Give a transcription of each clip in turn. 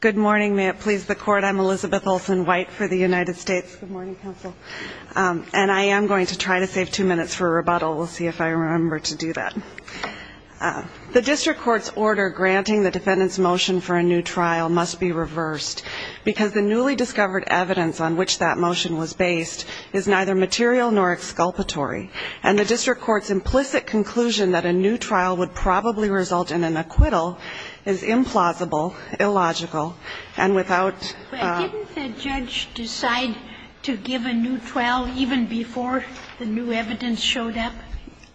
Good morning. May it please the court, I'm Elizabeth Olsen-White for the United States. Good morning, counsel. And I am going to try to save two minutes for a rebuttal. We'll see if I remember to do that. The district court's order granting the defendant's motion for a new trial must be reversed, because the newly discovered evidence on which that motion was based is neither material nor exculpatory, and the district court's implicit conclusion that a new trial would probably result in an acquittal is implausible, illogical, and unconstitutional. And without the new trial, even before the new evidence showed up?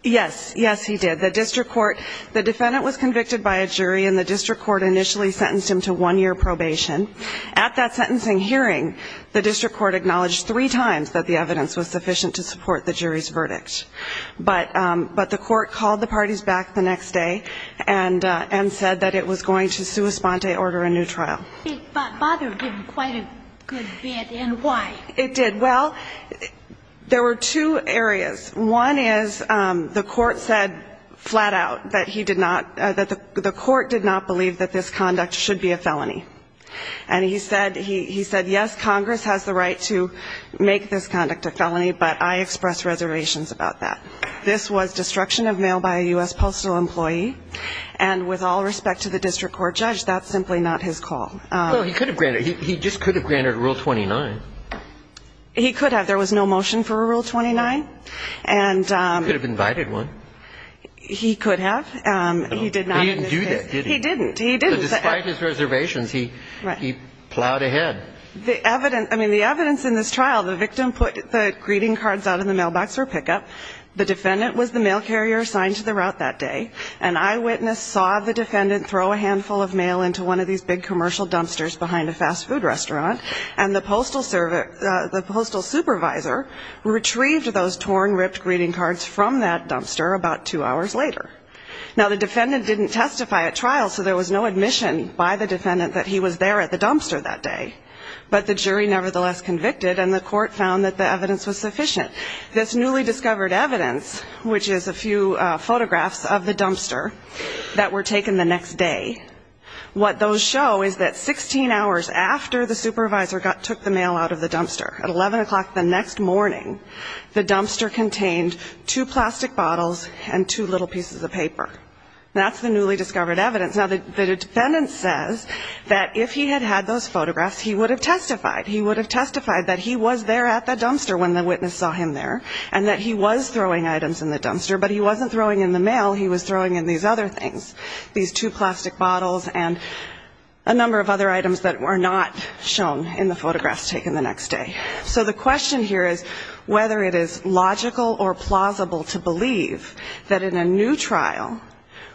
Yes. Yes, he did. The district court, the defendant was convicted by a jury, and the district court initially sentenced him to one-year probation. At that sentencing hearing, the district court acknowledged three times that the evidence was sufficient to support the jury's verdict. But the court called the parties back the next day and said that it was going to sua sponte order a new trial. It bothered him quite a good bit, and why? It did. Well, there were two areas. One is the court said flat out that he did not, that the court did not believe that this conduct should be a felony. And he said, yes, Congress has the right to make this conduct a felony, but I express reservations about that. This was destruction of mail by a U.S. postal employee, and with all respect to the district court judge, that's simply not his call. Well, he could have granted, he just could have granted Rule 29. He could have. There was no motion for Rule 29. He could have invited one. He could have. He did not. He didn't do that, did he? He didn't. He didn't. But despite his reservations, he plowed ahead. I mean, the evidence in this trial, the victim put the greeting cards out in the mailbox for pickup. The defendant was the mail carrier assigned to the route that day. An eyewitness saw the defendant throw a handful of mail into one of these big commercial dumpsters behind a fast food restaurant, and the postal supervisor retrieved those torn, ripped greeting cards from that dumpster about two hours later. Now, the defendant didn't testify at trial, so there was no admission by the defendant that he was there at the dumpster that day. But the jury nevertheless convicted, and the court found that the evidence was sufficient. This newly discovered evidence, which is a few photographs of the dumpster that were taken the next day, what those show is that 16 hours after the supervisor took the mail out of the dumpster, at 11 o'clock the next morning, the dumpster contained two plastic bottles and two little pieces of paper. That's the newly discovered evidence. Now, the defendant says that if he had had those photographs, he would have testified. He would have testified that he was there at the dumpster when the witness saw him there, and that he was throwing items in the dumpster, but he wasn't throwing in the mail. He was throwing in these other things, these two plastic bottles and a number of other items that were not shown in the photographs taken the next day. So the question here is whether it is logical or plausible to believe that in a new trial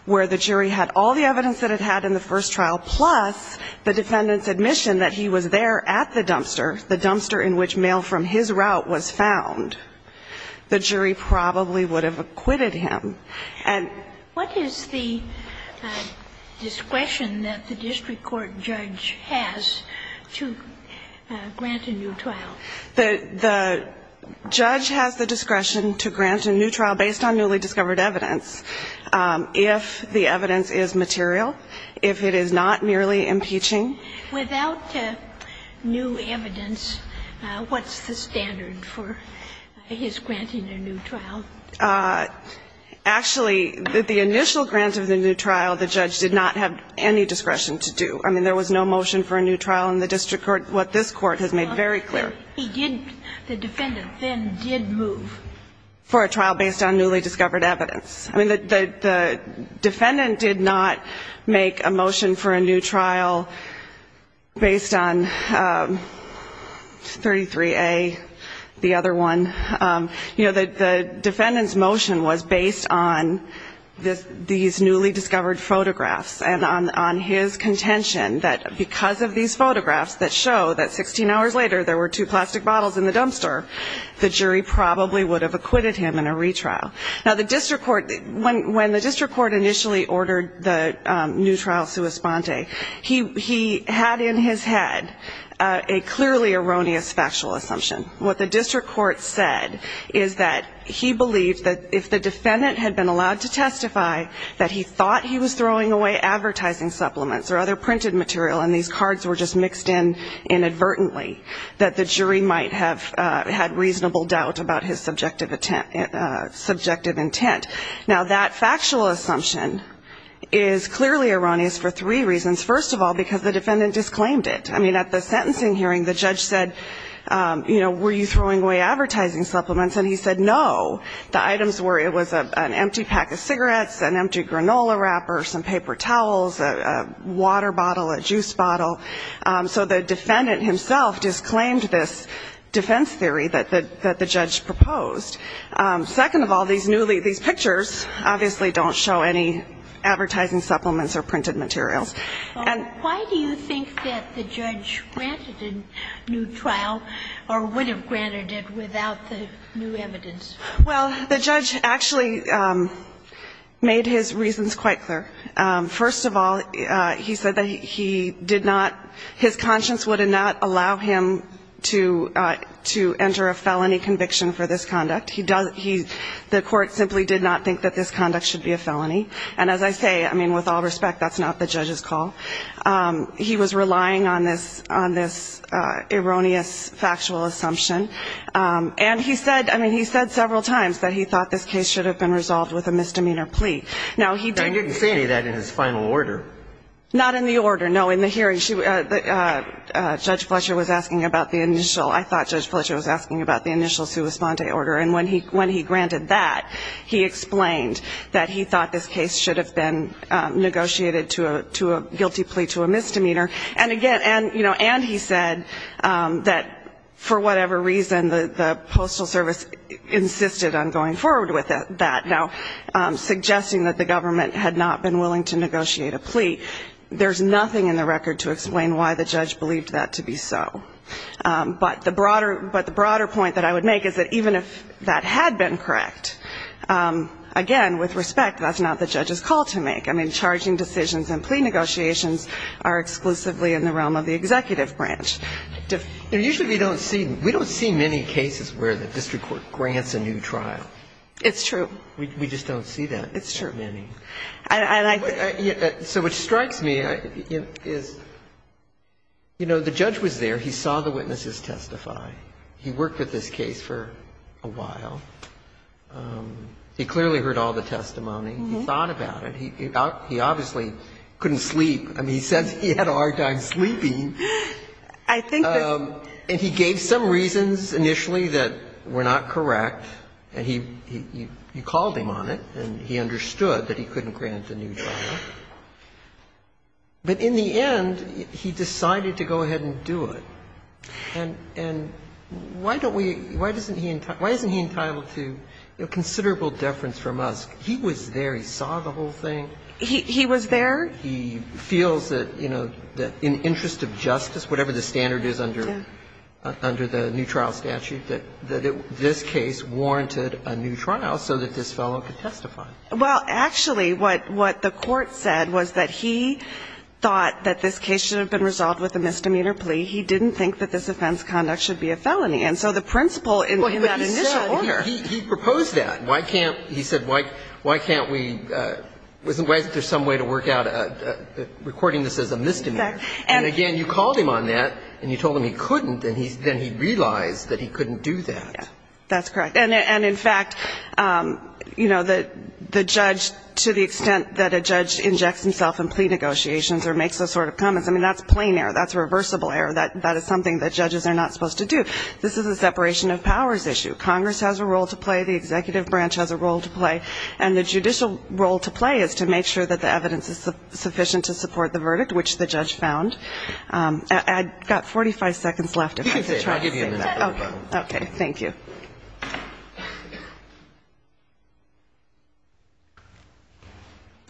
where the jury had all the evidence that it had in the first trial, plus the defendant's admission that he was there at the dumpster, the dumpster in which mail from his route was found, the jury probably would have acquitted him. And What is the discretion that the district court judge has to grant a new trial? The judge has the discretion to grant a new trial based on newly discovered evidence if the evidence is material, if it is not merely impeaching. Without new evidence, what's the standard for his granting a new trial? Actually, the initial grant of the new trial, the judge did not have any discretion to do. I mean, there was no motion for a new trial in the district court, what this court has made very clear. He didn't. The defendant then did move. For a trial based on newly discovered evidence. I mean, the defendant did not make a motion for a new trial based on 33A, the other one. You know, the defendant's motion was based on these newly discovered photographs and on his contention that because of these photographs that show that 16 hours later there were two plastic bottles in the dumpster, the jury probably would have acquitted him in a retrial. Now, the district court, when the district court initially ordered the new trial sua sponte, he had in his head a clearly erroneous factual assumption. What the district court said is that he believed that if the defendant had been allowed to testify that he thought he was throwing away advertising supplements or other printed material and these cards were just mixed in inadvertently, that the jury might have had reasonable doubt about his subjective intent. Now, that factual assumption is clearly erroneous for three reasons. First of all, because the defendant disclaimed it. I mean, at the sentencing hearing, the judge said, you know, were you throwing away advertising supplements? And he said no. The items were, it was an empty pack of cigarettes, an empty granola wrapper, some paper towels, a water bottle, a juice bottle. So the defendant himself disclaimed this defense theory that the judge proposed. Second of all, these pictures obviously don't show any advertising supplements or printed materials. And why do you think that the judge granted a new trial or would have granted it without the new evidence? Well, the judge actually made his reasons quite clear. First of all, he said that he did not, his conscience would not allow him to enter a felony conviction for this conduct. He does, he, the court simply did not think that this conduct should be a felony. And as I say, I mean, with all respect, that's not the judge's call. He was relying on this erroneous factual assumption. And he said, I mean, he said several times that he thought this case should have been resolved with a misdemeanor plea. Now, he didn't say that in his final order. Not in the order. No, in the hearing, Judge Fletcher was asking about the initial, I thought Judge Fletcher was asking about the initial sua sponte order. And when he granted that, he explained that he thought this case should have been negotiated to a guilty plea to a misdemeanor. And again, and, you know, and he said that for whatever reason, the Postal Service insisted on going forward with that. Now, suggesting that the government had not been willing to negotiate a plea, there's nothing in the record to explain why the judge believed that to be so. But the broader point that I would make is that even if that had been correct, again, with respect, that's not the judge's call to make. I mean, charging decisions and plea negotiations are exclusively in the realm of the executive branch. Usually we don't see many cases where the district court grants a new trial. It's true. We just don't see that. It's true. And so what strikes me is, you know, the judge was there. He saw the witnesses testify. He worked with this case for a while. He clearly heard all the testimony. He thought about it. He obviously couldn't sleep. I mean, he says he had a hard time sleeping. And he gave some reasons initially that were not correct, and he called him on it, and he understood that he couldn't grant a new trial. But in the end, he decided to go ahead and do it. And why don't we – why isn't he entitled to considerable deference from us? He was there. He saw the whole thing. He was there. He feels that, you know, in interest of justice, whatever the standard is under the new trial statute, that this case warranted a new trial so that this fellow could testify. Well, actually, what the court said was that he thought that this case should have been resolved with a misdemeanor plea. He didn't think that this offense conduct should be a felony. And so the principle in that initial order – Well, he said – he proposed that. Why can't – he said why can't we – why isn't there some way to work out a – recording this as a misdemeanor? And again, you called him on that, and you told him he couldn't, and then he realized that he couldn't do that. That's correct. And in fact, you know, the judge – to the extent that a judge injects himself in plea negotiations or makes those sort of comments, I mean, that's plain error. That's reversible error. That is something that judges are not supposed to do. This is a separation of powers issue. Congress has a role to play. The executive branch has a role to play. And the judicial role to play is to make sure that the evidence is sufficient to support the verdict, which the judge found. I've got 45 seconds left if I could try to save that. I'll give you a minute. Okay. Thank you.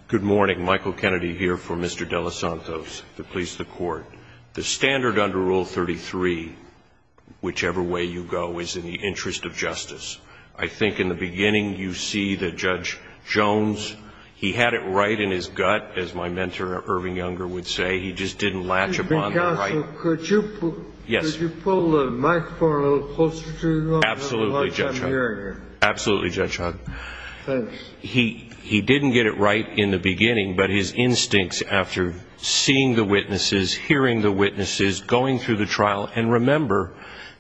Good morning. Michael Kennedy here for Mr. De Los Santos, the police, the court. The standard under Rule 33, whichever way you go, is in the interest of justice. I think in the beginning you see that Judge Jones, he had it right in his gut, as my mentor Irving Younger would say. He just didn't latch upon the right. Counsel, could you pull the microphone a little closer to you? Absolutely, Judge Hunt. I'm hearing you. Absolutely, Judge Hunt. Thanks. He didn't get it right in the beginning, but his instincts after seeing the witnesses, hearing the witnesses, going through the trial, and remember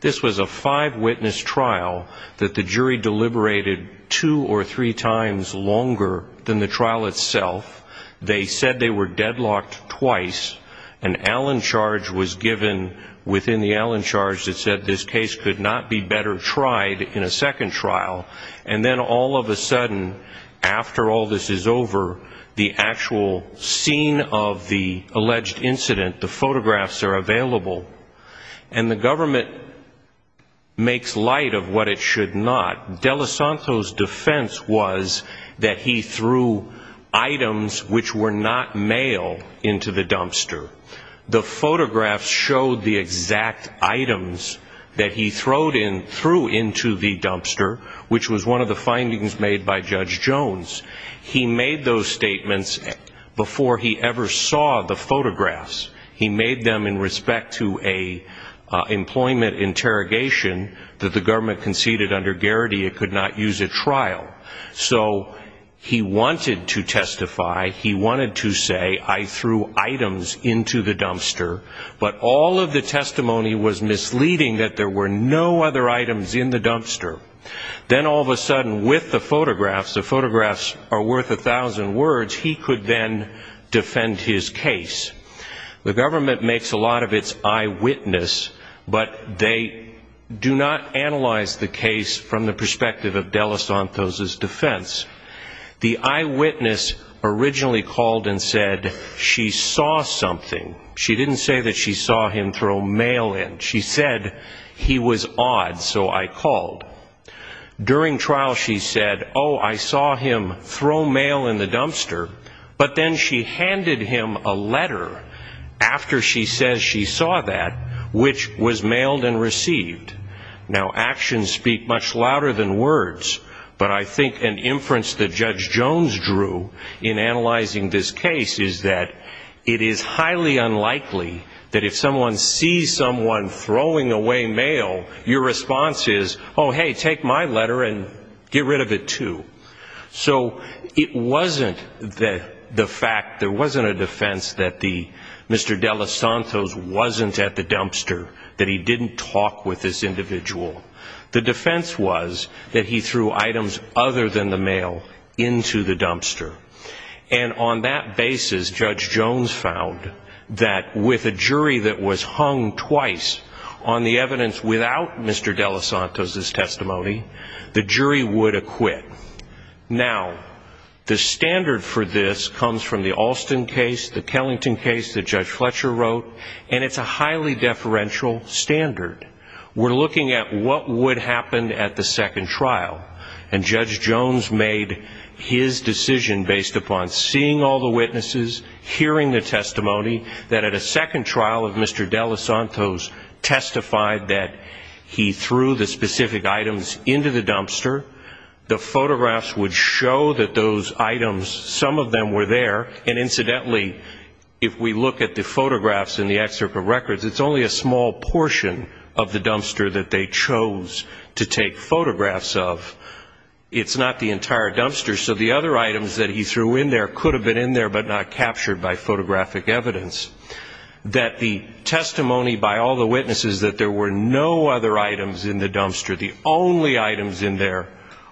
this was a five-witness trial that the jury deliberated two or three times longer than the trial itself. They said they were deadlocked twice. An Allen charge was given within the Allen charge that said this case could not be better tried in a second trial. And then all of a sudden, after all this is over, the actual scene of the alleged incident, the photographs are available, and the government makes light of what it should not. De Los Santos' defense was that he threw items which were not mail into the dumpster. The photographs showed the exact items that he threw into the dumpster, which was one of the findings made by Judge Jones. He made those statements before he ever saw the photographs. He made them in respect to an employment interrogation that the government conceded under Garrity it could not use at trial. So he wanted to testify. He wanted to say, I threw items into the dumpster, but all of the testimony was misleading that there were no other items in the dumpster. Then all of a sudden, with the photographs, the photographs are worth a thousand words, he could then defend his case. The government makes a lot of its eyewitness, but they do not analyze the case from the perspective of De Los Santos' defense. The eyewitness originally called and said she saw something. She didn't say that she saw him throw mail in. She said he was odd, so I called. During trial, she said, oh, I saw him throw mail in the dumpster, but then she handed him a letter after she says she saw that, which was mailed and received. Now, actions speak much louder than words, but I think an inference that Judge Jones drew in analyzing this case is that it is highly unlikely that if someone sees someone throwing away mail, your response is, oh, hey, take my letter and get rid of it, too. So it wasn't the fact, there wasn't a defense that Mr. De Los Santos wasn't at the dumpster, that he didn't talk with this individual. The defense was that he threw items other than the mail into the dumpster. And on that basis, Judge Jones found that with a jury that was hung twice on the evidence without Mr. De Los Santos' testimony, the jury would acquit. Now, the standard for this comes from the Alston case, the Kellington case that Judge Fletcher wrote, and it's a highly deferential standard. We're looking at what would happen at the second trial, and Judge Jones made his decision based upon seeing all the witnesses, hearing the testimony that at a second trial of Mr. De Los Santos testified that he threw the specific items into the dumpster. The photographs would show that those items, some of them were there. And incidentally, if we look at the photographs in the excerpt of records, it's only a small portion of the dumpster that they chose to take photographs of. It's not the entire dumpster. So the other items that he threw in there could have been in there but not captured by photographic evidence. That the testimony by all the witnesses that there were no other items in the dumpster, the only items in there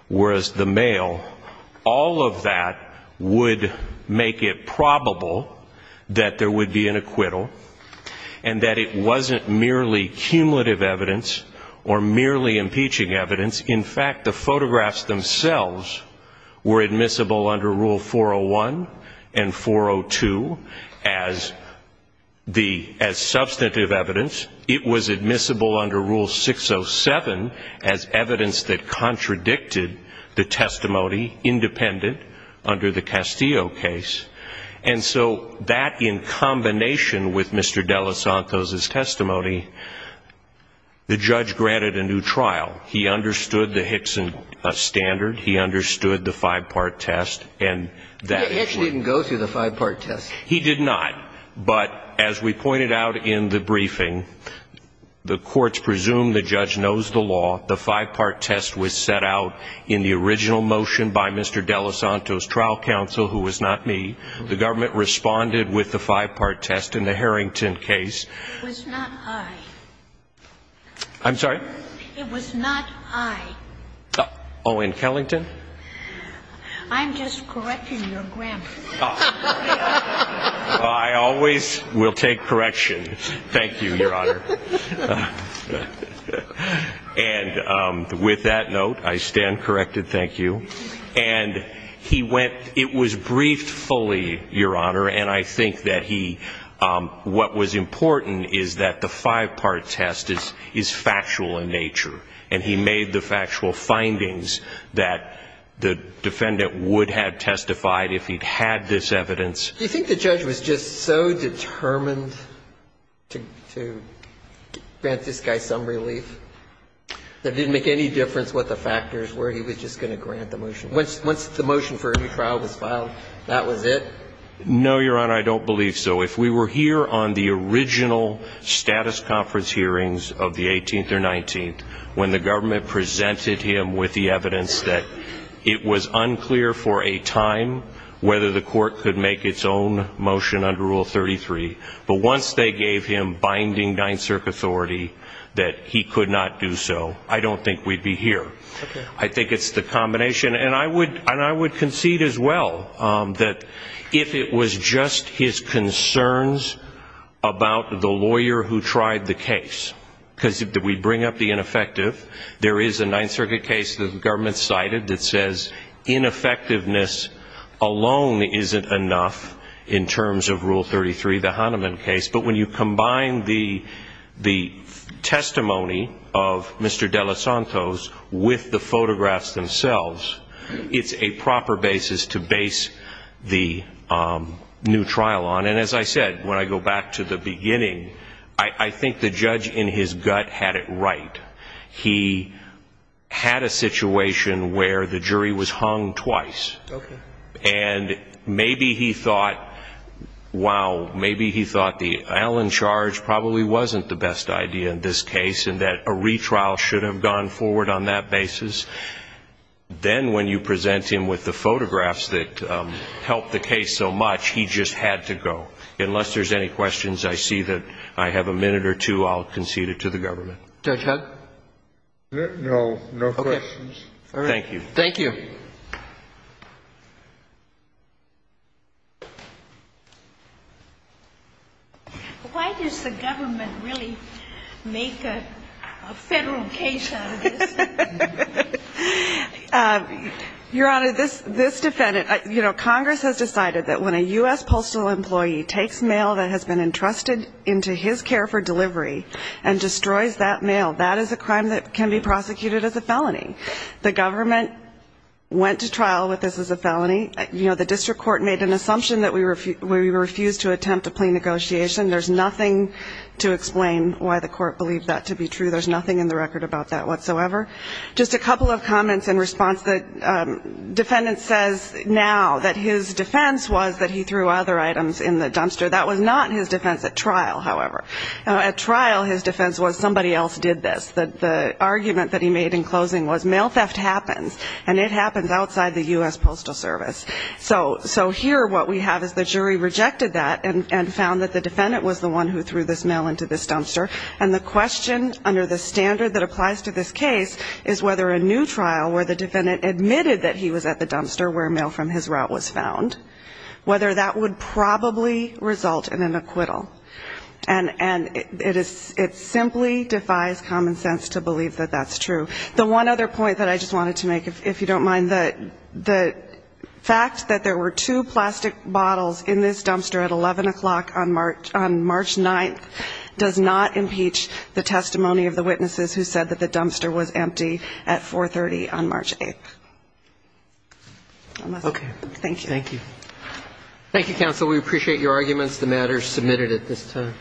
was the mail, all of that would make it probable that there would be an acquittal and that it wasn't merely cumulative evidence or merely impeaching evidence. In fact, the photographs themselves were admissible under Rule 401 and 402 as substantive evidence. It was admissible under Rule 607 as evidence that contradicted the testimony independent under the Castillo case. And so that in combination with Mr. De Los Santos' testimony, the judge granted a new trial. He understood the Hickson standard. He understood the five-part test. And that was one. Hitch didn't go through the five-part test. He did not. But as we pointed out in the briefing, the courts presumed the judge knows the law. The five-part test was set out in the original motion by Mr. De Los Santos' trial counsel, who was not me. The government responded with the five-part test in the Harrington case. It was not I. I'm sorry? It was not I. Owen Kellington? I'm just correcting your grammar. I always will take correction. Thank you, Your Honor. And with that note, I stand corrected. Thank you. And he went ñ it was briefed fully, Your Honor. And I think that he ñ what was important is that the five-part test is factual in nature. And he made the factual findings that the defendant would have testified if he'd had this evidence. Do you think the judge was just so determined to grant this guy some relief that it didn't make any difference what the factors were? He was just going to grant the motion. Once the motion for a new trial was filed, that was it? No, Your Honor, I don't believe so. If we were here on the original status conference hearings of the 18th or 19th, when the government presented him with the evidence that it was unclear for a time whether the court could make its own motion under Rule 33, but once they gave him binding 9th Circuit authority that he could not do so, I don't think we'd be here. I think it's the combination. And I would concede as well that if it was just his concerns about the lawyer who tried the case, because we bring up the ineffective, there is a 9th Circuit case the government cited that says ineffectiveness alone isn't enough in terms of Rule 33, the Hahnemann case. But when you combine the testimony of Mr. De Los Santos with the photographs themselves, it's a proper basis to base the new trial on. And as I said, when I go back to the beginning, I think the judge in his gut had it right. He had a situation where the jury was hung twice. Okay. And maybe he thought, wow, maybe he thought the Allen charge probably wasn't the best idea in this case, and that a retrial should have gone forward on that basis. Then when you present him with the photographs that helped the case so much, he just had to go. Unless there's any questions, I see that I have a minute or two. I'll concede it to the government. Judge Hudd? No, no questions. Thank you. Thank you. Why does the government really make a Federal case out of this? Your Honor, this defendant, you know, Congress has decided that when a U.S. postal employee takes mail that has been entrusted into his care for delivery and destroys that mail, that is a crime that can be prosecuted as a felony. The government went to trial with this as a felony. You know, the district court made an assumption that we refused to attempt a plea negotiation. There's nothing to explain why the court believed that to be true. There's nothing in the record about that whatsoever. Just a couple of comments in response. The defendant says now that his defense was that he threw other items in the dumpster. That was not his defense at trial, however. At trial, his defense was somebody else did this. The argument that he made in closing was mail theft happens, and it happens outside the U.S. Postal Service. So here what we have is the jury rejected that and found that the defendant was the one who threw this mail into this dumpster. And the question under the standard that applies to this case is whether a new trial where the defendant admitted that he was at the dumpster where mail from his route was found, whether that would probably result in an acquittal. And it simply defies common sense to believe that that's true. The one other point that I just wanted to make, if you don't mind, the fact that there were two plastic bottles in this dumpster at 11 o'clock on March 9th does not impeach the testimony of the witnesses who said that the dumpster was empty at 430 on March 8th. Thank you. Thank you. Thank you, counsel. We appreciate your arguments. The matter is submitted at this time.